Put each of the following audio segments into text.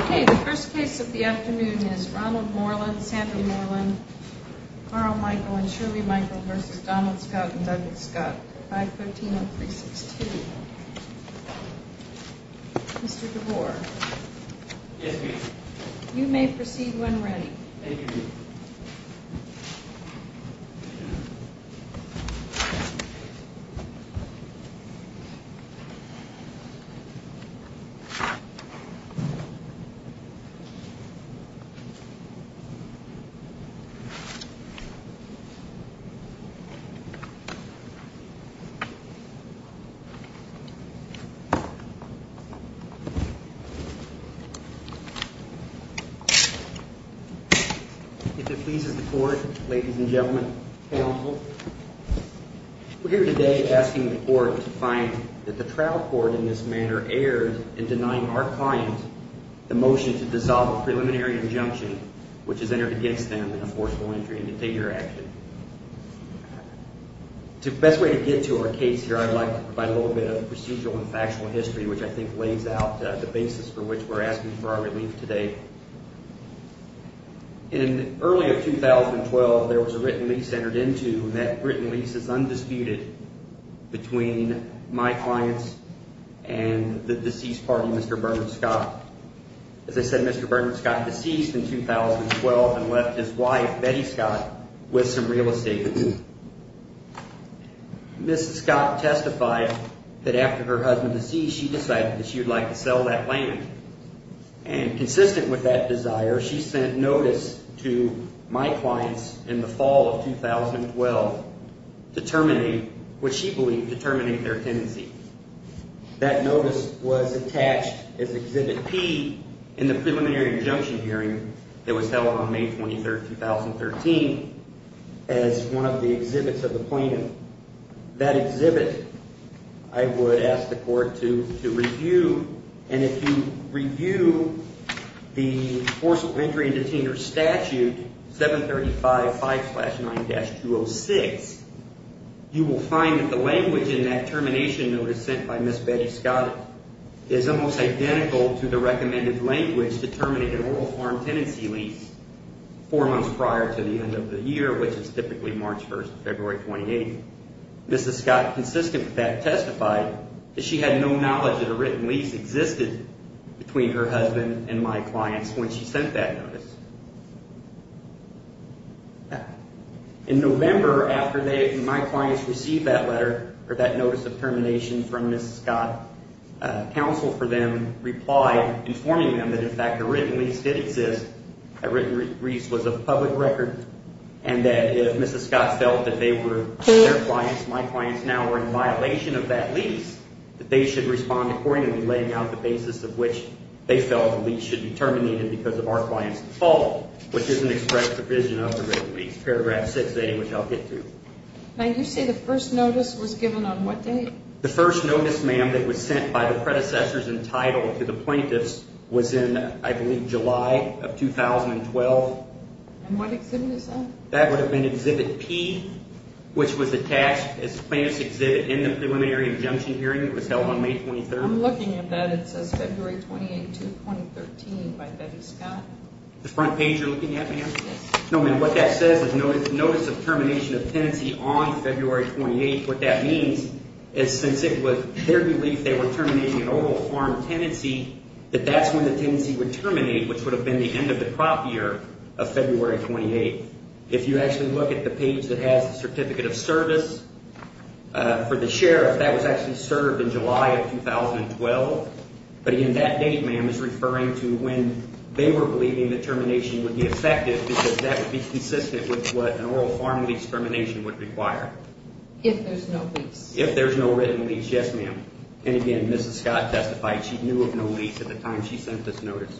Okay, the first case of the afternoon is Ronald Moreland v. Sanford Moreland, Carl Michael v. Shirley Michael v. Donald Scott v. Douglas Scott, 513-362. Mr. DeBoer? Yes, ma'am. You may proceed when ready. Thank you. If it pleases the court, ladies and gentlemen, counsel, we're here today asking the court to find that the trial court in this manner erred in denying our client the motion to dissolve a preliminary injunction which is entered against them in a forcible entry and container action. The best way to get to our case here, I'd like to provide a little bit of procedural and factual history which I think lays out the basis for which we're asking for our relief today. In early of 2012, there was a written lease entered into and that written lease is undisputed between my clients and the deceased party, Mr. Bernard Scott. As I said, Mr. Bernard Scott deceased in 2012 and left his wife, Betty Scott, with some real estate. Mrs. Scott testified that after her husband deceased, she decided that she would like to sell that land. And consistent with that desire, she sent notice to my clients in the fall of 2012 to terminate what she believed to terminate their tenancy. That notice was attached as Exhibit P in the preliminary injunction hearing that was held on May 23rd, 2013 as one of the exhibits of the plaintiff. That exhibit, I would ask the court to review. And if you review the Forcible Entry and Container Statute 735-5-9-206, you will find that the language in that termination notice sent by Miss Betty Scott is almost identical to the recommended language to terminate an oral farm tenancy lease four months prior to the end of the year, which is typically March 1st, February 28th. Mrs. Scott, consistent with that, testified that she had no knowledge that a written lease existed between her husband and my clients when she sent that notice. In November, after my clients received that letter, or that notice of termination from Mrs. Scott, counsel for them replied, informing them that in fact a written lease did exist, a written lease was a public record, and that if Mrs. Scott felt that they were, their clients, my clients now were in violation of that lease, that they should respond accordingly, laying out the basis of which they felt the lease should be terminated because of our clients' default. Which is an express provision of a written lease. Paragraph 680, which I'll get to. Now you say the first notice was given on what date? The first notice, ma'am, that was sent by the predecessors in title to the plaintiffs was in, I believe, July of 2012. And what exhibit is that? That would have been Exhibit P, which was attached as plaintiff's exhibit in the preliminary injunction hearing that was held on May 23rd. I'm looking at that. It says February 28th, 2013 by Betty Scott. The front page you're looking at, ma'am? Yes. No, ma'am, what that says is notice of termination of tenancy on February 28th. What that means is since it was their belief they were terminating an overall farm tenancy, that that's when the tenancy would terminate, which would have been the end of the crop year of February 28th. If you actually look at the page that has the certificate of service for the sheriff, that was actually served in July of 2012. But, again, that date, ma'am, is referring to when they were believing the termination would be effective because that would be consistent with what an oral farm lease termination would require. If there's no lease. If there's no written lease, yes, ma'am. And, again, Mrs. Scott testified she knew of no lease at the time she sent this notice.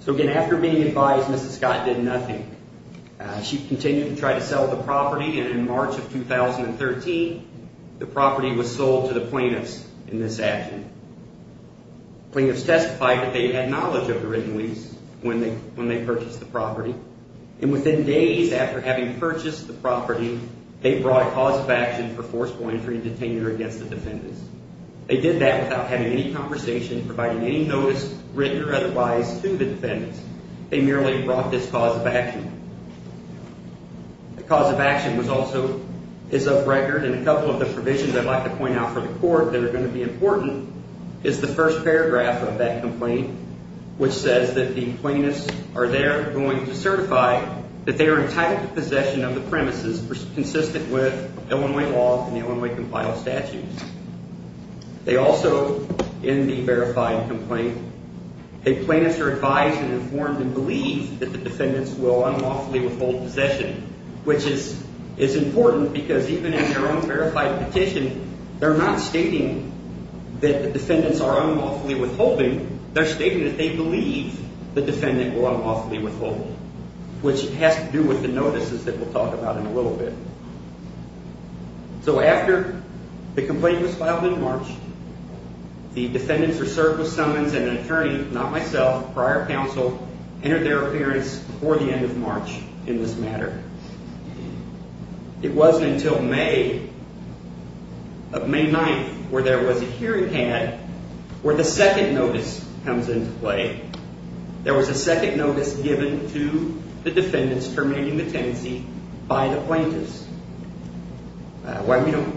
So, again, after being advised, Mrs. Scott did nothing. She continued to try to sell the property, and in March of 2013, the property was sold to the plaintiffs in this action. Plaintiffs testified that they had knowledge of the written lease when they purchased the property, and within days after having purchased the property, they brought a cause of action for forceful entry and detainment against the defendants. They did that without having any conversation, providing any notice, written or otherwise, to the defendants. They merely brought this cause of action. The cause of action was also, is of record, and a couple of the provisions I'd like to point out for the court that are going to be important is the first paragraph of that complaint, which says that the plaintiffs are there going to certify that they are entitled to possession of the premises consistent with Illinois law and the Illinois compiled statutes. They also, in the verified complaint, the plaintiffs are advised and informed and believe that the defendants will unlawfully withhold possession, which is important because even in their own verified petition, they're not stating that the defendants are unlawfully withholding. They're stating that they believe the defendant will unlawfully withhold, which has to do with the notices that we'll talk about in a little bit. So after the complaint was filed in March, the defendants are served with summons and an attorney, not myself, prior counsel, entered their appearance before the end of March in this matter. It wasn't until May, May 9th, where there was a hearing had, where the second notice comes into play. There was a second notice given to the defendants terminating the tenancy by the plaintiffs.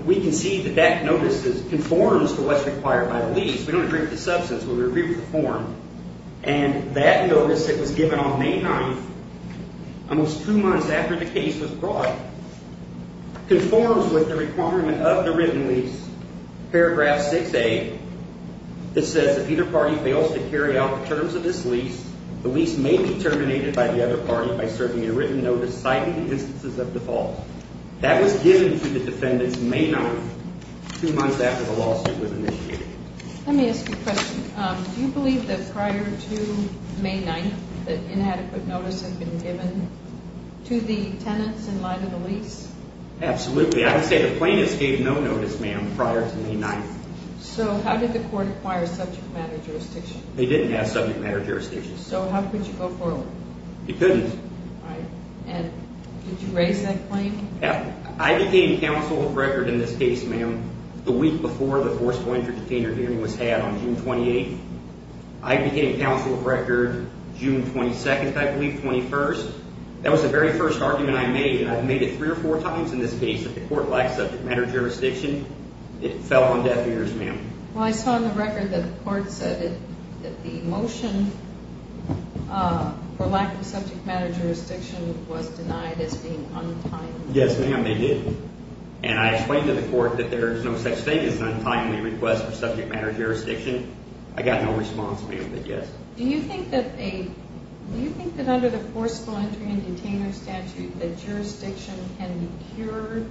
We can see that that notice conforms to what's required by the lease. We don't agree with the substance, but we agree with the form. And that notice that was given on May 9th, almost two months after the case was brought, conforms with the requirement of the written lease, paragraph 6A. It says, if either party fails to carry out the terms of this lease, the lease may be terminated by the other party by serving a written notice citing the instances of default. That was given to the defendants May 9th, two months after the lawsuit was initiated. Let me ask you a question. Do you believe that prior to May 9th, that inadequate notice had been given to the tenants in light of the lease? Absolutely. I would say the plaintiffs gave no notice, ma'am, prior to May 9th. So how did the court acquire subject matter jurisdiction? They didn't have subject matter jurisdiction. So how could you go forward? You couldn't. Right. And did you raise that claim? I became counsel of record in this case, ma'am, the week before the forcible entry detainer hearing was had on June 28th. I became counsel of record June 22nd, I believe, 21st. That was the very first argument I made, and I've made it three or four times in this case that the court lacked subject matter jurisdiction. It fell on deaf ears, ma'am. Well, I saw in the record that the court said that the motion for lack of subject matter jurisdiction was denied as being untimely. Yes, ma'am, they did. And I explained to the court that there is no such thing as an untimely request for subject matter jurisdiction. I got no response, ma'am, but yes. Do you think that under the forcible entry and detainer statute that jurisdiction can be cured?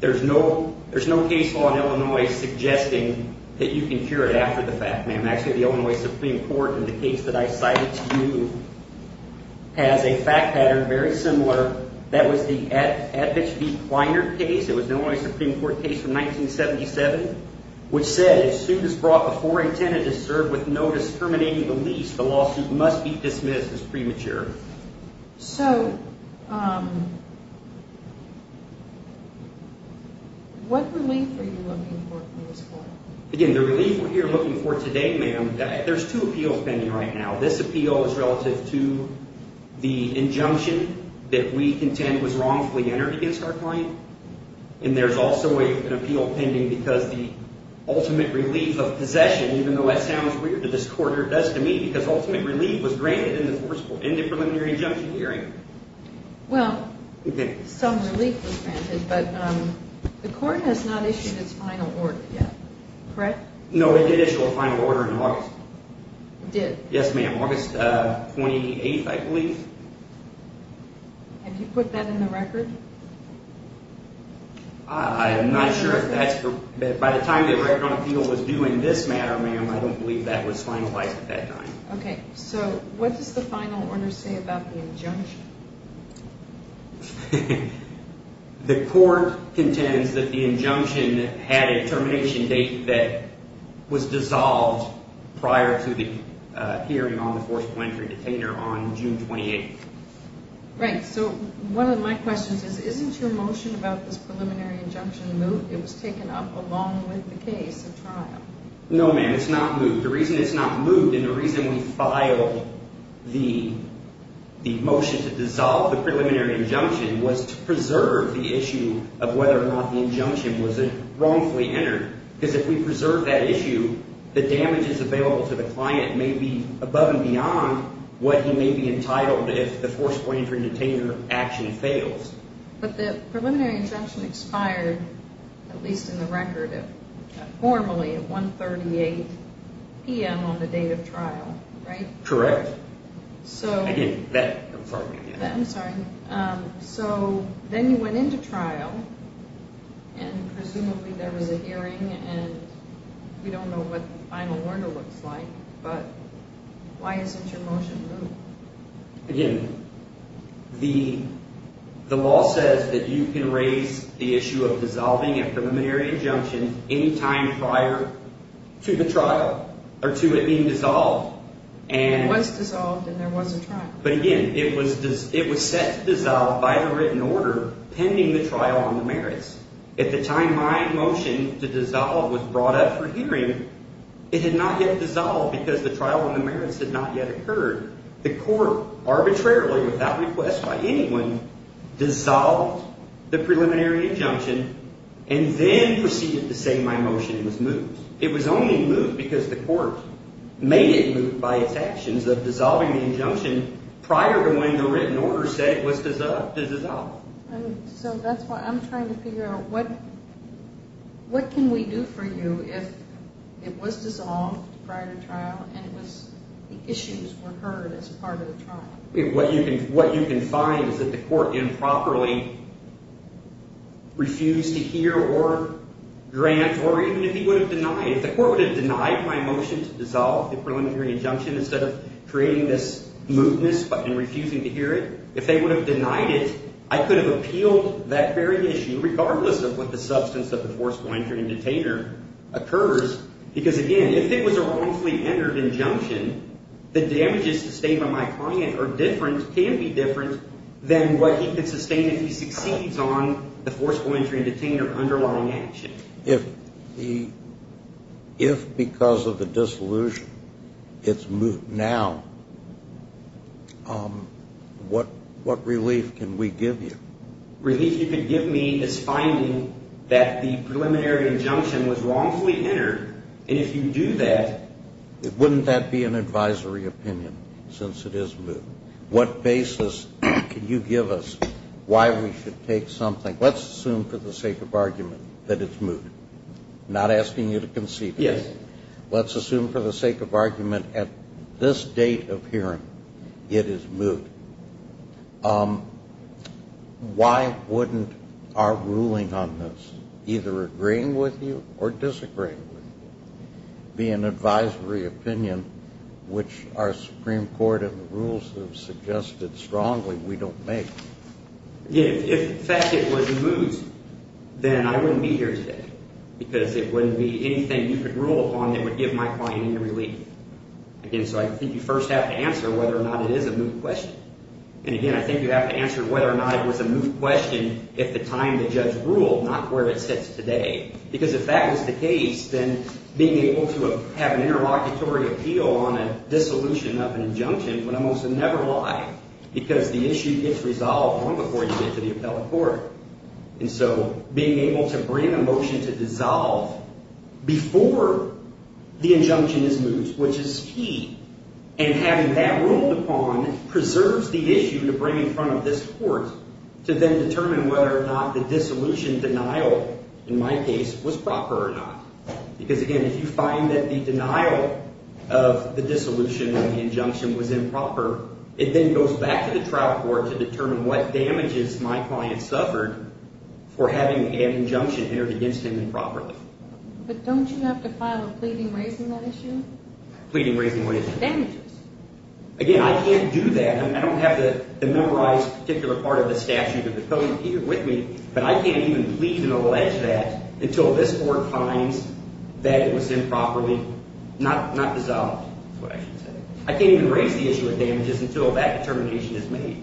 There's no case law in Illinois suggesting that you can cure it after the fact, ma'am. Actually, the Illinois Supreme Court, in the case that I cited to you, has a fact pattern very similar. That was the Advich v. Kleiner case. It was an Illinois Supreme Court case from 1977, which said, as soon as brought before a tenant is served with notice terminating the lease, the lawsuit must be dismissed as premature. So what relief are you looking for from this court? Again, the relief we're here looking for today, ma'am, there's two appeals pending right now. This appeal is relative to the injunction that we contend was wrongfully entered against our client, and there's also an appeal pending because the ultimate relief of possession, even though that sounds weird to this court, or it does to me, because ultimate relief was granted in the forcible preliminary injunction hearing. Well, some relief was granted, but the court has not issued its final order yet, correct? No, it did issue a final order in August. It did? Yes, ma'am, August 28th, I believe. Have you put that in the record? I'm not sure if that's correct. By the time the record on appeal was due in this matter, ma'am, I don't believe that was finalized at that time. Okay, so what does the final order say about the injunction? The court contends that the injunction had a termination date that was dissolved prior to the hearing on the forcible entry detainer on June 28th. Right, so one of my questions is, isn't your motion about this preliminary injunction moved? It was taken up along with the case at trial. No, ma'am, it's not moved. The reason it's not moved and the reason we filed the motion to dissolve the preliminary injunction was to preserve the issue of whether or not the injunction was wrongfully entered, because if we preserve that issue, the damages available to the client may be above and beyond what he may be entitled if the forcible entry detainer action fails. But the preliminary injunction expired, at least in the record, formally at 1.38 p.m. on the date of trial, right? Correct. I didn't bet, I'm sorry. I'm sorry. So then you went into trial and presumably there was a hearing and we don't know what the final order looks like, but why isn't your motion moved? Again, the law says that you can raise the issue of dissolving a preliminary injunction any time prior to the trial or to it being dissolved. It was dissolved and there was a trial. But again, it was set to dissolve by the written order pending the trial on the merits. At the time my motion to dissolve was brought up for hearing, it had not yet dissolved because the trial on the merits had not yet occurred. The court arbitrarily, without request by anyone, dissolved the preliminary injunction and then proceeded to say my motion was moved. It was only moved because the court made it moved by its actions of dissolving the injunction prior to when the written order said it was to dissolve. So that's why I'm trying to figure out what can we do for you if it was dissolved prior to trial and the issues were heard as part of the trial? What you can find is that the court improperly refused to hear or grant or even if he would have denied, if the court would have denied my motion to dissolve the preliminary injunction instead of creating this mootness and refusing to hear it, if they would have denied it, I could have appealed that very issue regardless of what the substance of the forceful entry and detainer occurs. Because again, if it was a wrongfully entered injunction, the damages sustained by my client are different, can be different than what he can sustain if he succeeds on the forceful entry and detainer underlying action. If because of the dissolution it's moot now, what relief can we give you? Relief you could give me is finding that the preliminary injunction was wrongfully entered, and if you do that... Wouldn't that be an advisory opinion since it is moot? What basis can you give us why we should take something? Let's assume for the sake of argument that it's moot. I'm not asking you to concede it. Yes. Let's assume for the sake of argument at this date of hearing it is moot. Why wouldn't our ruling on this, either agreeing with you or disagreeing with you, be an advisory opinion which our Supreme Court and the rules have suggested strongly we don't make? If in fact it was moot, then I wouldn't be here today because it wouldn't be anything you could rule upon that would give my client any relief. Again, so I think you first have to answer whether or not it is a moot question. And again, I think you have to answer whether or not it was a moot question if the time the judge ruled, not where it sits today. Because if that was the case, then being able to have an interlocutory appeal on a dissolution of an injunction would almost never lie because the issue gets resolved long before you get to the appellate court. And so being able to bring a motion to dissolve before the injunction is moot, which is key, and having that ruled upon preserves the issue to bring in front of this court to then determine whether or not the dissolution denial, in my case, was proper or not. Because again, if you find that the denial of the dissolution of the injunction was improper, it then goes back to the trial court to determine what damages my client suffered for having an injunction entered against him improperly. But don't you have to file a pleading raising that issue? Pleading raising what issue? Damages. Again, I can't do that. I don't have the memorized particular part of the statute of the code with me. But I can't even plead and allege that until this court finds that it was improperly not dissolved, is what I should say. I can't even raise the issue of damages until that determination is made.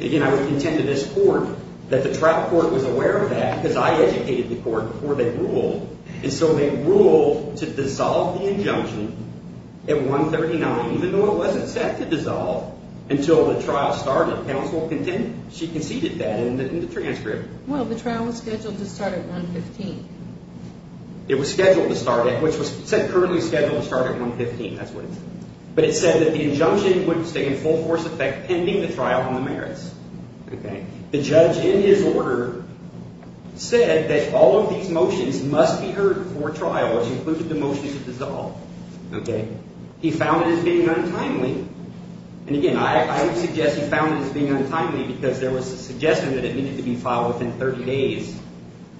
Again, I would contend to this court that the trial court was aware of that because I educated the court before they ruled. And so they ruled to dissolve the injunction at 139, even though it wasn't set to dissolve until the trial started. Counsel conceded that in the transcript. Well, the trial was scheduled to start at 115. It was scheduled to start at, which was currently scheduled to start at 115. That's what it said. But it said that the injunction would stay in full force effect pending the trial on the merits. The judge in his order said that all of these motions must be heard before trial, which included the motion to dissolve. He found it as being untimely. And again, I would suggest he found it as being untimely because there was a suggestion that it needed to be filed within 30 days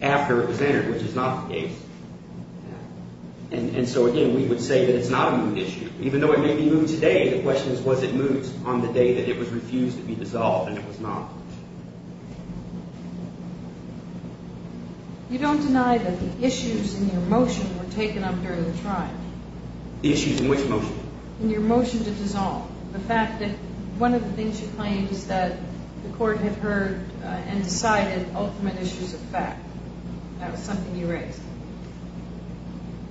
after it was entered, which is not the case. And so, again, we would say that it's not a moot issue. You don't deny that the issues in your motion were taken up during the trial? The issues in which motion? In your motion to dissolve. The fact that one of the things you claimed is that the court had heard and decided ultimate issues of fact. That was something you raised.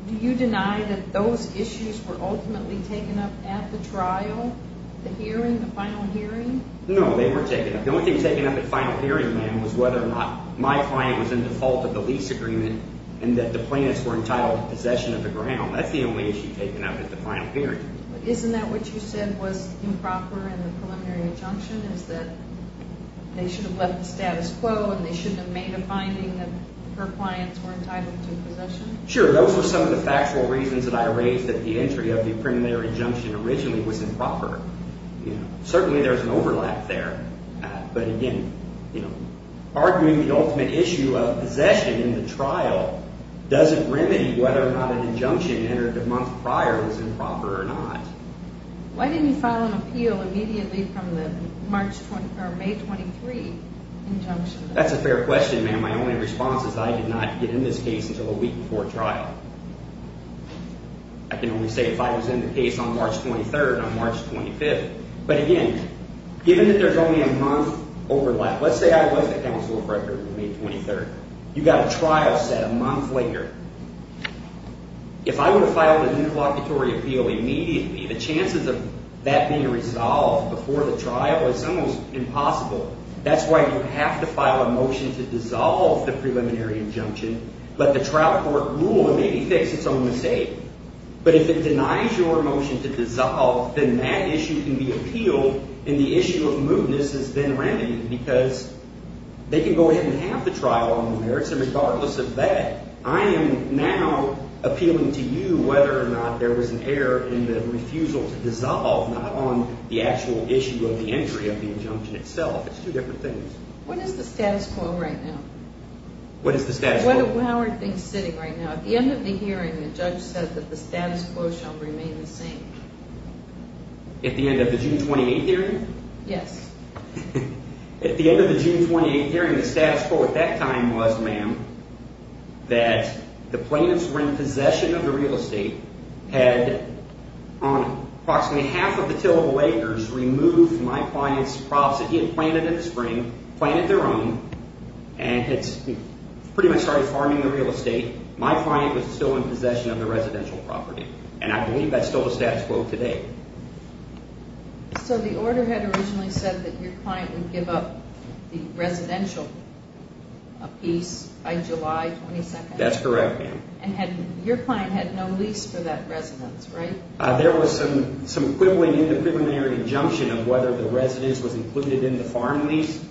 Do you deny that those issues were ultimately taken up at the trial, the hearing, the final hearing? No, they were taken up. The only thing taken up at final hearing, ma'am, was whether or not my client was in default of the lease agreement and that the plaintiffs were entitled to possession of the ground. That's the only issue taken up at the final hearing. But isn't that what you said was improper in the preliminary injunction is that they should have left the status quo and they shouldn't have made a finding that her clients were entitled to possession? Sure. Those were some of the factual reasons that I raised that the entry of the preliminary injunction originally was improper. Certainly there's an overlap there. But again, arguing the ultimate issue of possession in the trial doesn't remedy whether or not an injunction entered a month prior was improper or not. Why didn't you file an appeal immediately from the May 23 injunction? That's a fair question, ma'am. My only response is I did not get in this case until a week before trial. I can only say if I was in the case on March 23rd or March 25th. But again, given that there's only a month overlap, let's say I was the counsel of record on May 23rd. You got a trial set a month later. If I were to file the new proclamatory appeal immediately, the chances of that being resolved before the trial is almost impossible. That's why you have to file a motion to dissolve the preliminary injunction. Let the trial court rule and maybe fix its own mistake. But if it denies your motion to dissolve, then that issue can be appealed and the issue of mootness has been remedied because they can go ahead and have the trial on the merits. Regardless of that, I am now appealing to you whether or not there was an error in the refusal to dissolve, not on the actual issue of the entry of the injunction itself. It's two different things. What is the status quo right now? What is the status quo? How are things sitting right now? At the end of the hearing, the judge said that the status quo shall remain the same. At the end of the June 28th hearing? Yes. At the end of the June 28th hearing, the status quo at that time was, ma'am, that the plaintiffs were in possession of the real estate, had on approximately half of the tillable acres removed my client's crops that he had planted in the spring, planted their own, and had pretty much started farming the real estate. My client was still in possession of the residential property, and I believe that's still the status quo today. So the order had originally said that your client would give up the residential piece by July 22nd? That's correct, ma'am. And your client had no lease for that residence, right? There was some quibbling in the preliminary injunction of whether the residence was included in the farm lease.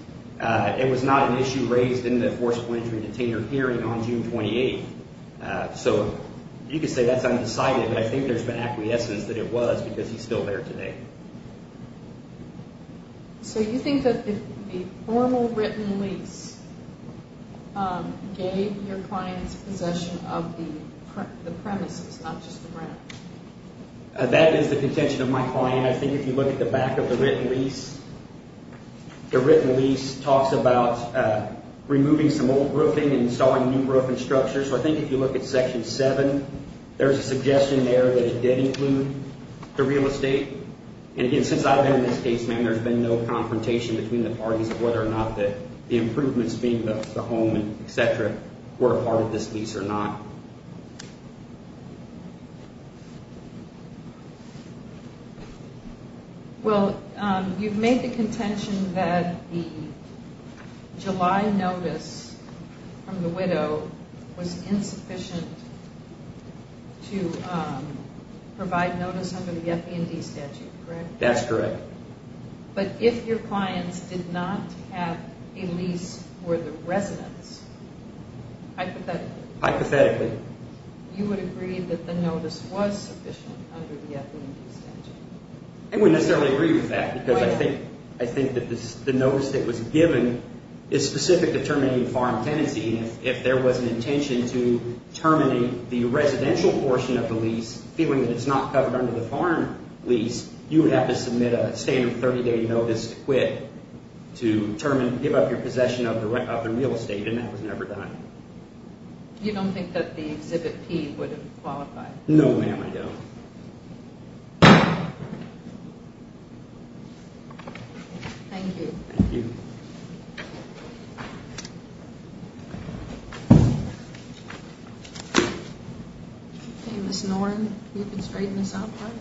It was not an issue raised in the forceful entry and detainer hearing on June 28th. So you could say that's undecided, but I think there's been acquiescence that it was because he's still there today. So you think that the formal written lease gave your client's possession of the premises, not just the ground? That is the contention of my client. I think if you look at the back of the written lease, the written lease talks about removing some old roofing and installing new roofing structures. So I think if you look at Section 7, there's a suggestion there that it did include the real estate. And again, since I've been in this case, ma'am, there's been no confrontation between the parties of whether or not the improvements, being the home, etc., were a part of this lease or not. Well, you've made the contention that the July notice from the widow was insufficient to provide notice under the FB&D statute, correct? That's correct. But if your clients did not have a lease for the residence, hypothetically? Hypothetically. You would agree that the notice was sufficient under the FB&D statute? I wouldn't necessarily agree with that because I think that the notice that was given is specific to terminating foreign tenancy. And if there was an intention to terminate the residential portion of the lease, feeling that it's not covered under the foreign lease, you would have to submit a standard 30-day notice to quit to give up your possession of the real estate, and that was never done. You don't think that the Exhibit P would have qualified? No, ma'am, I don't. Thank you. Thank you. Okay, Ms. Norton, you can straighten this out for us.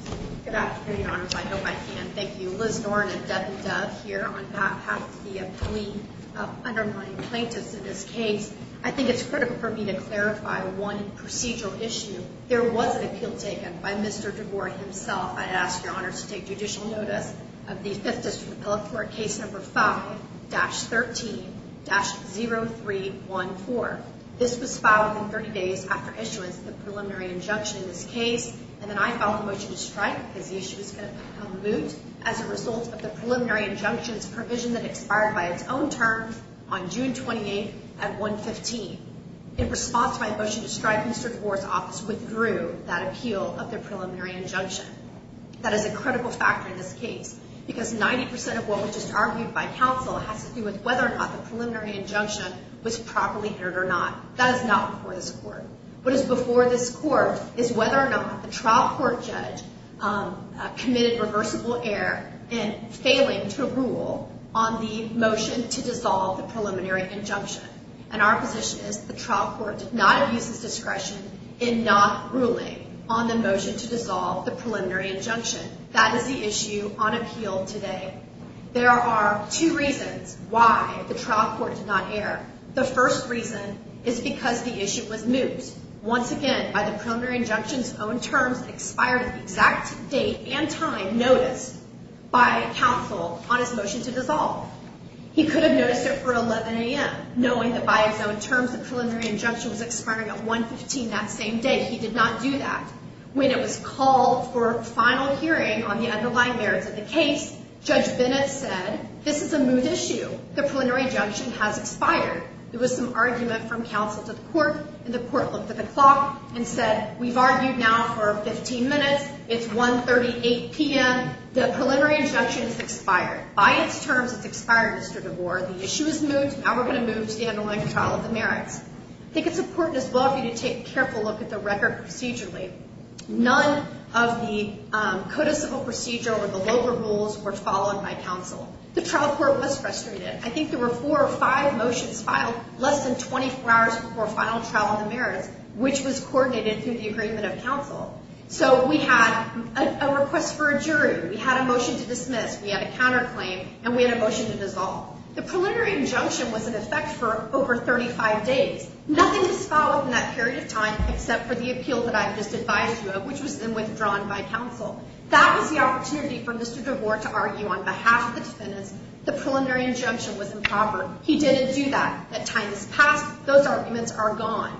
Good afternoon, Your Honors. I hope I can. Thank you. Liz Norton of Devin Dove here on behalf of the plea-undermining plaintiffs in this case. I think it's critical for me to clarify one procedural issue. There was an appeal taken by Mr. DeVore himself. I ask Your Honors to take judicial notice of the Fifth District Pellet Court Case No. 5-13-0314. This was filed within 30 days after issuance of the preliminary injunction in this case, and then I filed a motion to strike because the issue was going to become moot as a result of the preliminary injunction's provision that expired by its own term on June 28th at 1-15. In response to my motion to strike, Mr. DeVore's office withdrew that appeal of the preliminary injunction. That is a critical factor in this case because 90 percent of what was just argued by counsel has to do with whether or not the preliminary injunction was properly heard or not. That is not before this Court. What is before this Court is whether or not the trial court judge committed reversible error in failing to rule on the motion to dissolve the preliminary injunction. And our position is the trial court did not abuse its discretion in not ruling on the motion to dissolve the preliminary injunction. That is the issue on appeal today. The first reason is because the issue was moot. Once again, by the preliminary injunction's own terms, expired at the exact date and time noticed by counsel on his motion to dissolve. He could have noticed it for 11 a.m., knowing that by his own terms, the preliminary injunction was expiring at 1-15 that same day. He did not do that. When it was called for a final hearing on the underlying merits of the case, Judge Bennett said this is a moot issue. The preliminary injunction has expired. There was some argument from counsel to the Court, and the Court looked at the clock and said we've argued now for 15 minutes. It's 1-38 p.m. The preliminary injunction has expired. By its terms, it's expired, Mr. DeBoer. The issue is moot. Now we're going to move to the underlying trial of the merits. I think it's important as well for you to take a careful look at the record procedurally. None of the code of civil procedure or the LOGA rules were followed by counsel. The trial court was frustrated. I think there were four or five motions filed less than 24 hours before final trial on the merits, which was coordinated through the agreement of counsel. So we had a request for a jury, we had a motion to dismiss, we had a counterclaim, and we had a motion to dissolve. The preliminary injunction was in effect for over 35 days. Nothing was followed in that period of time except for the appeal that I've just advised you of, which was then withdrawn by counsel. That was the opportunity for Mr. DeBoer to argue on behalf of the defendants the preliminary injunction was improper. He didn't do that. That time has passed. Those arguments are gone.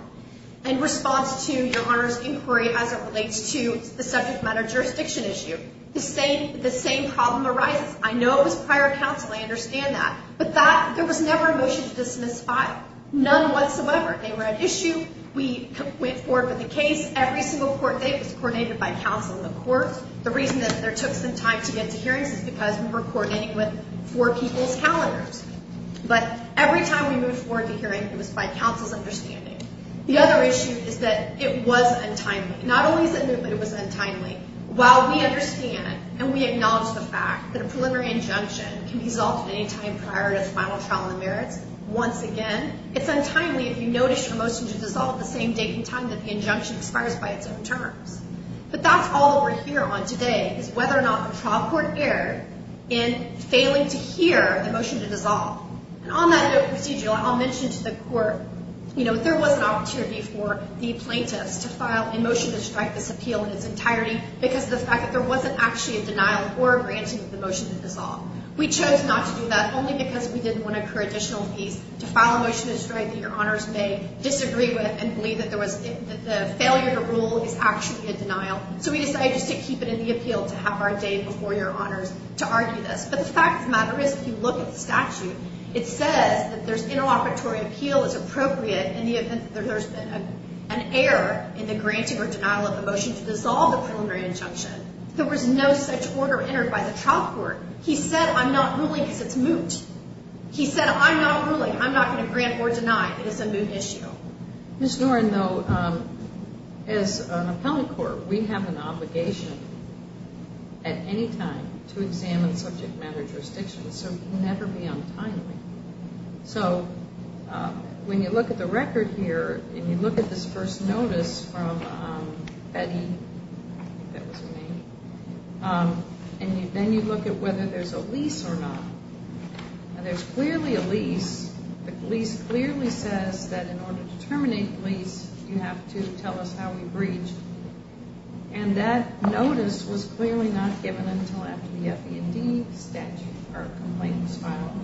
In response to your Honor's inquiry as it relates to the subject matter jurisdiction issue, the same problem arises. I know it was prior counsel. I understand that. But there was never a motion to dismiss filed. None whatsoever. They were at issue. We went forward with the case. Every single court date was coordinated by counsel in the courts. The reason that it took some time to get to hearings is because we were coordinating with four people's calendars. But every time we moved forward to hearing, it was by counsel's understanding. The other issue is that it was untimely. Not only is it new, but it was untimely. While we understand and we acknowledge the fact that a preliminary injunction can be dissolved at any time prior to a final trial in the merits, once again, it's untimely if you notice a motion to dissolve the same date and time that the injunction expires by its own terms. But that's all that we're here on today is whether or not the trial court erred in failing to hear the motion to dissolve. And on that note, procedural, I'll mention to the court, you know, there was an opportunity for the plaintiffs to file a motion to strike this appeal in its entirety because of the fact that there wasn't actually a denial or a granting of the motion to dissolve. We chose not to do that only because we didn't want to incur additional fees. To file a motion to strike that your honors may disagree with and believe that the failure to rule is actually a denial. So we decided just to keep it in the appeal to have our day before your honors to argue this. But the fact of the matter is, if you look at the statute, it says that there's interoperatory appeal is appropriate in the event that there's been an error in the granting or denial of the motion to dissolve the preliminary injunction. There was no such order entered by the trial court. He said, I'm not ruling because it's moot. He said, I'm not ruling. I'm not going to grant or deny. It is a moot issue. Ms. Noren, though, as an appellate court, we have an obligation at any time to examine subject matter jurisdictions. So we can never be untimely. So when you look at the record here and you look at this first notice from Betty, I think that was her name, and then you look at whether there's a lease or not. There's clearly a lease. The lease clearly says that in order to terminate the lease, you have to tell us how we breach. And that notice was clearly not given until after the F.E. and D. statute or complaint was filed.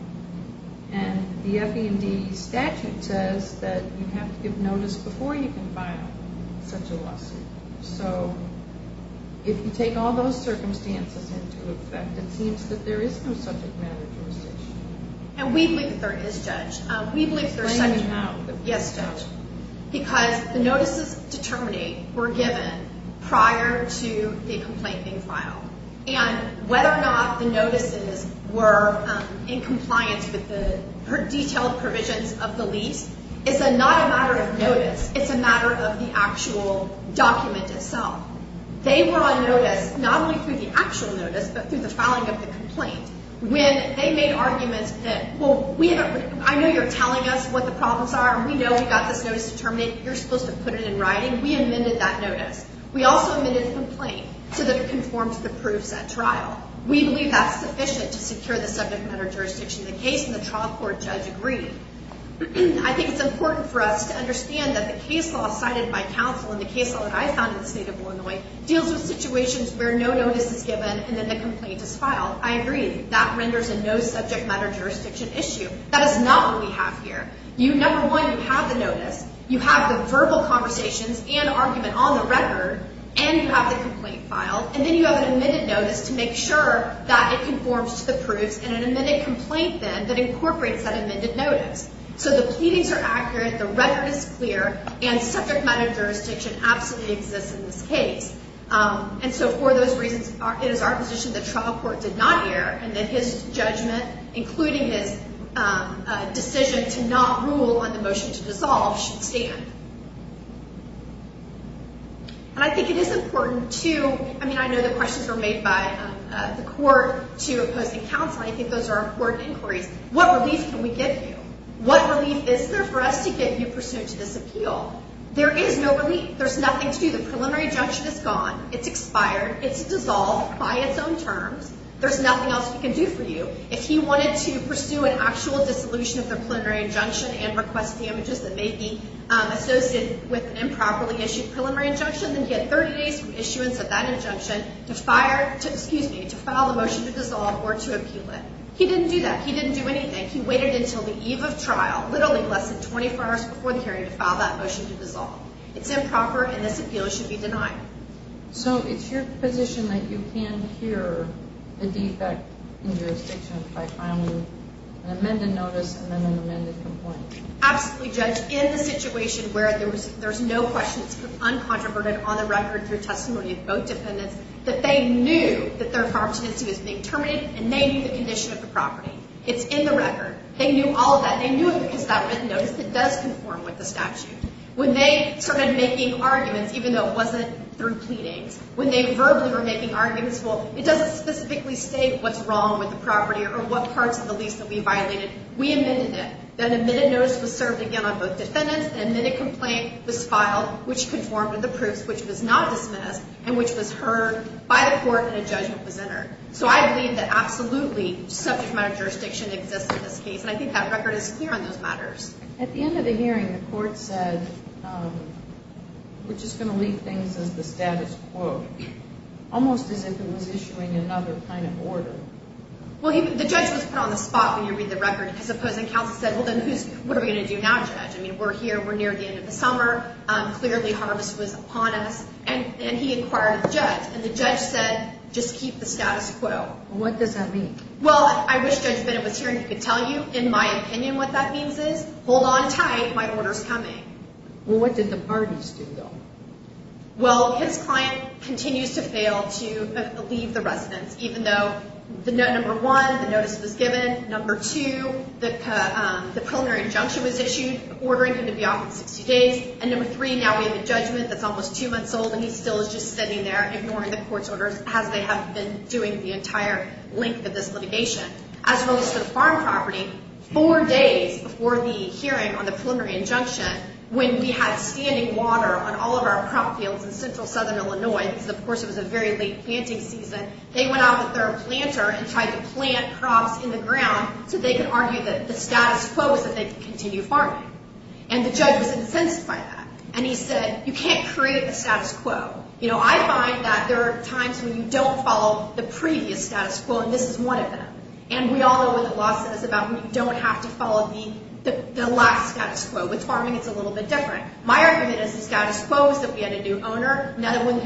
And the F.E. and D. statute says that you have to give notice before you can file such a lawsuit. So if you take all those circumstances into effect, it seems that there is no subject matter jurisdiction. And we believe that there is, Judge. Explain it now. Yes, Judge. Because the notices to terminate were given prior to the complaint being filed. And whether or not the notices were in compliance with the detailed provisions of the lease is not a matter of notice. It's a matter of the actual document itself. They were on notice not only through the actual notice but through the filing of the complaint. When they made arguments that, well, I know you're telling us what the problems are, and we know we've got this notice to terminate, but you're supposed to put it in writing, we amended that notice. We also amended the complaint so that it conforms to the proofs at trial. We believe that's sufficient to secure the subject matter jurisdiction of the case, and the trial court judge agreed. I think it's important for us to understand that the case law cited by counsel and the case law that I found in the State of Illinois deals with situations where no notice is given and then the complaint is filed. I agree. That renders a no subject matter jurisdiction issue. That is not what we have here. Number one, you have the notice, you have the verbal conversations and argument on the record, and you have the complaint filed, and then you have an amended notice to make sure that it conforms to the proofs and then an amended complaint then that incorporates that amended notice. So the pleadings are accurate, the record is clear, and subject matter jurisdiction absolutely exists in this case. And so for those reasons, it is our position that trial court did not err and that his judgment, including his decision to not rule on the motion to dissolve, should stand. And I think it is important to, I mean, I know the questions were made by the court to opposing counsel, and I think those are important inquiries. What relief can we give you? What relief is there for us to give you pursuant to this appeal? There is no relief. There's nothing to do. The preliminary injunction is gone. It's expired. It's dissolved by its own terms. There's nothing else we can do for you. If he wanted to pursue an actual dissolution of the preliminary injunction and request damages that may be associated with an improperly issued preliminary injunction, then he had 30 days from issuance of that injunction to file the motion to dissolve or to appeal it. He didn't do that. He didn't do anything. He waited until the eve of trial, literally less than 24 hours before the hearing, to file that motion to dissolve. It's improper, and this appeal should be denied. So it's your position that you can hear the defect in jurisdiction by filing an amended notice and then an amended complaint? Absolutely, Judge. In the situation where there's no questions uncontroverted on the record through testimony of both defendants, that they knew that their farm tenancy was being terminated, and they knew the condition of the property. It's in the record. They knew all of that. They knew it because that written notice, it does conform with the statute. When they started making arguments, even though it wasn't through pleadings, when they verbally were making arguments, well, it doesn't specifically state what's wrong with the property or what parts of the lease will be violated. We amended it. Then an amended notice was served again on both defendants. An amended complaint was filed, which conformed with the proofs, which was not dismissed, and which was heard by the court and a judgment was entered. So I believe that absolutely subject matter jurisdiction exists in this case, and I think that record is clear on those matters. At the end of the hearing, the court said, which is going to leave things as the status quo, almost as if it was issuing another kind of order. Well, the judge was put on the spot when you read the record. His opposing counsel said, well, then what are we going to do now, Judge? I mean, we're here. We're near the end of the summer. Clearly, harvest was upon us. And he inquired of the judge, and the judge said, just keep the status quo. What does that mean? Well, I wish Judge Bennett was here and he could tell you, in my opinion, what that means is, hold on tight. My order's coming. Well, what did the parties do, though? Well, his client continues to fail to leave the residence, even though, number one, the notice was given. Number two, the preliminary injunction was issued ordering him to be off in 60 days. And number three, now we have a judgment that's almost two months old, and he still is just sitting there ignoring the court's orders as they have been doing the entire length of this litigation. As well as to the farm property, four days before the hearing on the preliminary injunction, when we had standing water on all of our crop fields in central southern Illinois, because, of course, it was a very late planting season, they went out with their planter and tried to plant crops in the ground so they could argue that the status quo was that they could continue farming. And the judge was incensed by that. And he said, you can't create the status quo. You know, I find that there are times when you don't follow the previous status quo, and this is one of them. And we all know what the law says about when you don't have to follow the last status quo. With farming, it's a little bit different. My argument is the status quo is that we had a new owner. No one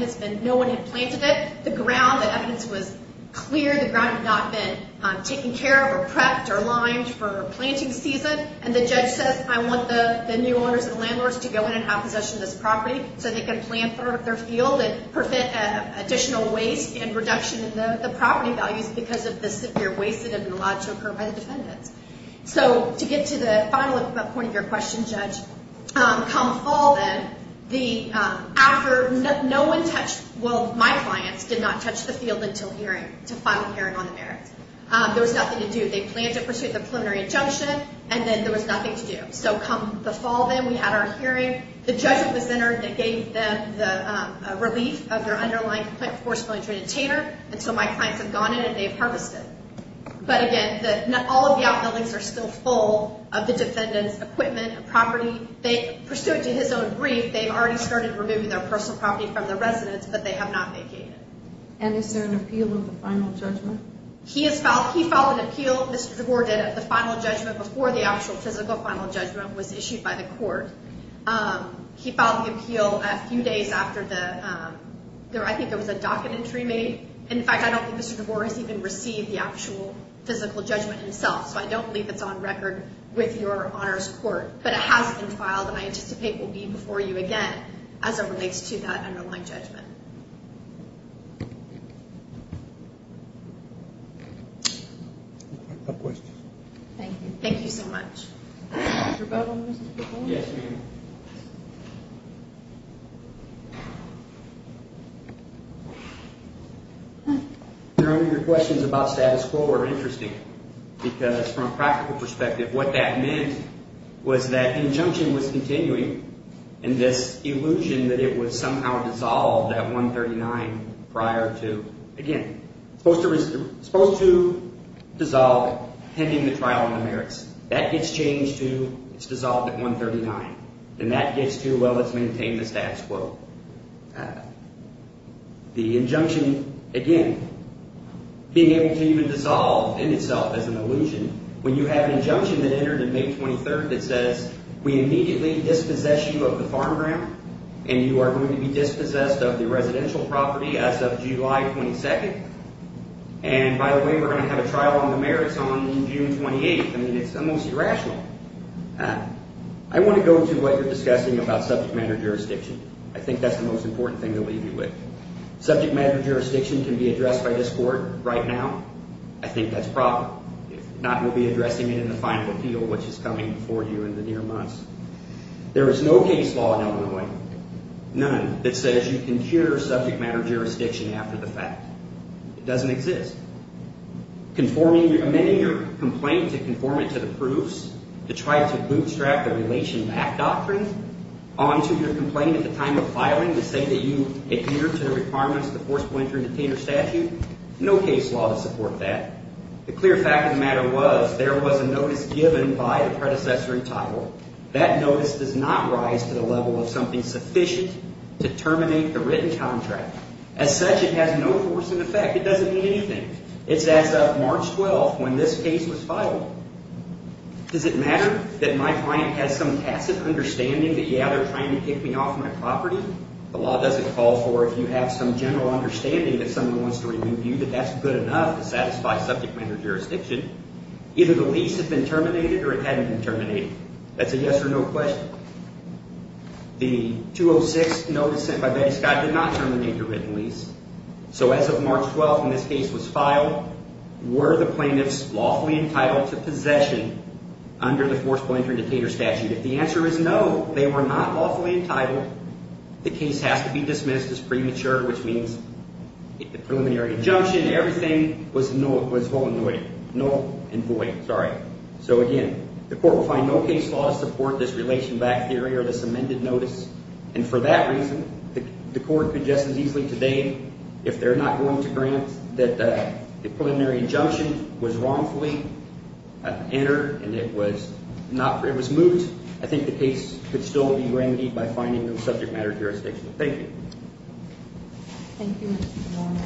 had planted it. The ground, the evidence was clear. The ground had not been taken care of or prepped or limed for planting season. And the judge says, I want the new owners and landlords to go in and have possession of this property so they can plant further up their field and prevent additional waste and reduction in the property values because of the severe waste that had been allowed to occur by the defendants. So to get to the final point of your question, Judge, come fall then, after no one touched, well, my clients did not touch the field until hearing, to file a hearing on the merits. There was nothing to do. They planned to pursue the preliminary injunction, and then there was nothing to do. So come the fall then, we had our hearing. The judge was entered and gave them the relief of their underlying forcefully traded tainter. And so my clients have gone in and they've harvested. But again, all of the outbuildings are still full of the defendants' equipment and property. Pursuant to his own brief, they've already started removing their personal property from the residence, but they have not vacated. And is there an appeal of the final judgment? He has filed an appeal, Mr. DeBoer did, of the final judgment before the actual physical final judgment was issued by the court. He filed the appeal a few days after the, I think it was a docket entry made. In fact, I don't think Mr. DeBoer has even received the actual physical judgment himself, so I don't believe it's on record with your Honor's Court. But it has been filed, and I anticipate it will be before you again as it relates to that underlying judgment. Thank you so much. Your questions about status quo are interesting, because from a practical perspective, what that meant was that injunction was continuing, and this illusion that it was somehow dissolved at 139 prior to, again, supposed to dissolve pending the trial on the merits. That gets changed to it's dissolved at 139. And that gets to, well, let's maintain the status quo. The injunction, again, being able to even dissolve in itself as an illusion, when you have an injunction that entered on May 23rd that says, we immediately dispossess you of the farm ground, and you are going to be dispossessed of the residential property as of July 22nd. And by the way, we're going to have a trial on the merits on June 28th. I mean, it's almost irrational. I want to go to what you're discussing about subject matter jurisdiction. I think that's the most important thing to leave you with. Subject matter jurisdiction can be addressed by this court right now. I think that's probable. If not, we'll be addressing it in the final appeal, which is coming before you in the near months. There is no case law in Illinois, none, that says you can cure subject matter jurisdiction after the fact. It doesn't exist. Conforming, amending your complaint to conform it to the proofs, to try to bootstrap the relation back doctrine onto your complaint at the time of filing to say that you adhered to the requirements of the forcible entry detainer statute, no case law to support that. The clear fact of the matter was there was a notice given by the predecessor in title. That notice does not rise to the level of something sufficient to terminate the written contract. As such, it has no force in effect. It doesn't mean anything. It's as of March 12th when this case was filed. Does it matter that my client has some passive understanding that, yeah, they're trying to kick me off my property? The law doesn't call for if you have some general understanding that someone wants to remove you, that that's good enough to satisfy subject matter jurisdiction. Either the lease had been terminated or it hadn't been terminated. That's a yes or no question. The 206 notice sent by Betty Scott did not terminate the written lease. So as of March 12th when this case was filed, were the plaintiffs lawfully entitled to possession under the forcible entry detainer statute? If the answer is no, they were not lawfully entitled. The case has to be dismissed as premature, which means the preliminary injunction, everything was null and void. So again, the court will find no case law to support this relation back theory or this amended notice. And for that reason, the court could just as easily today, if they're not going to grant that the preliminary injunction was wrongfully entered and it was moot, I think the case could still be remedied by finding no subject matter jurisdiction. Thank you. Thank you, Mr. DeMora.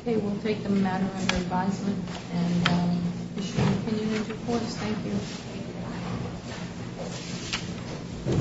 Okay, we'll take the matter under advisement and issue an opinion report. Thank you.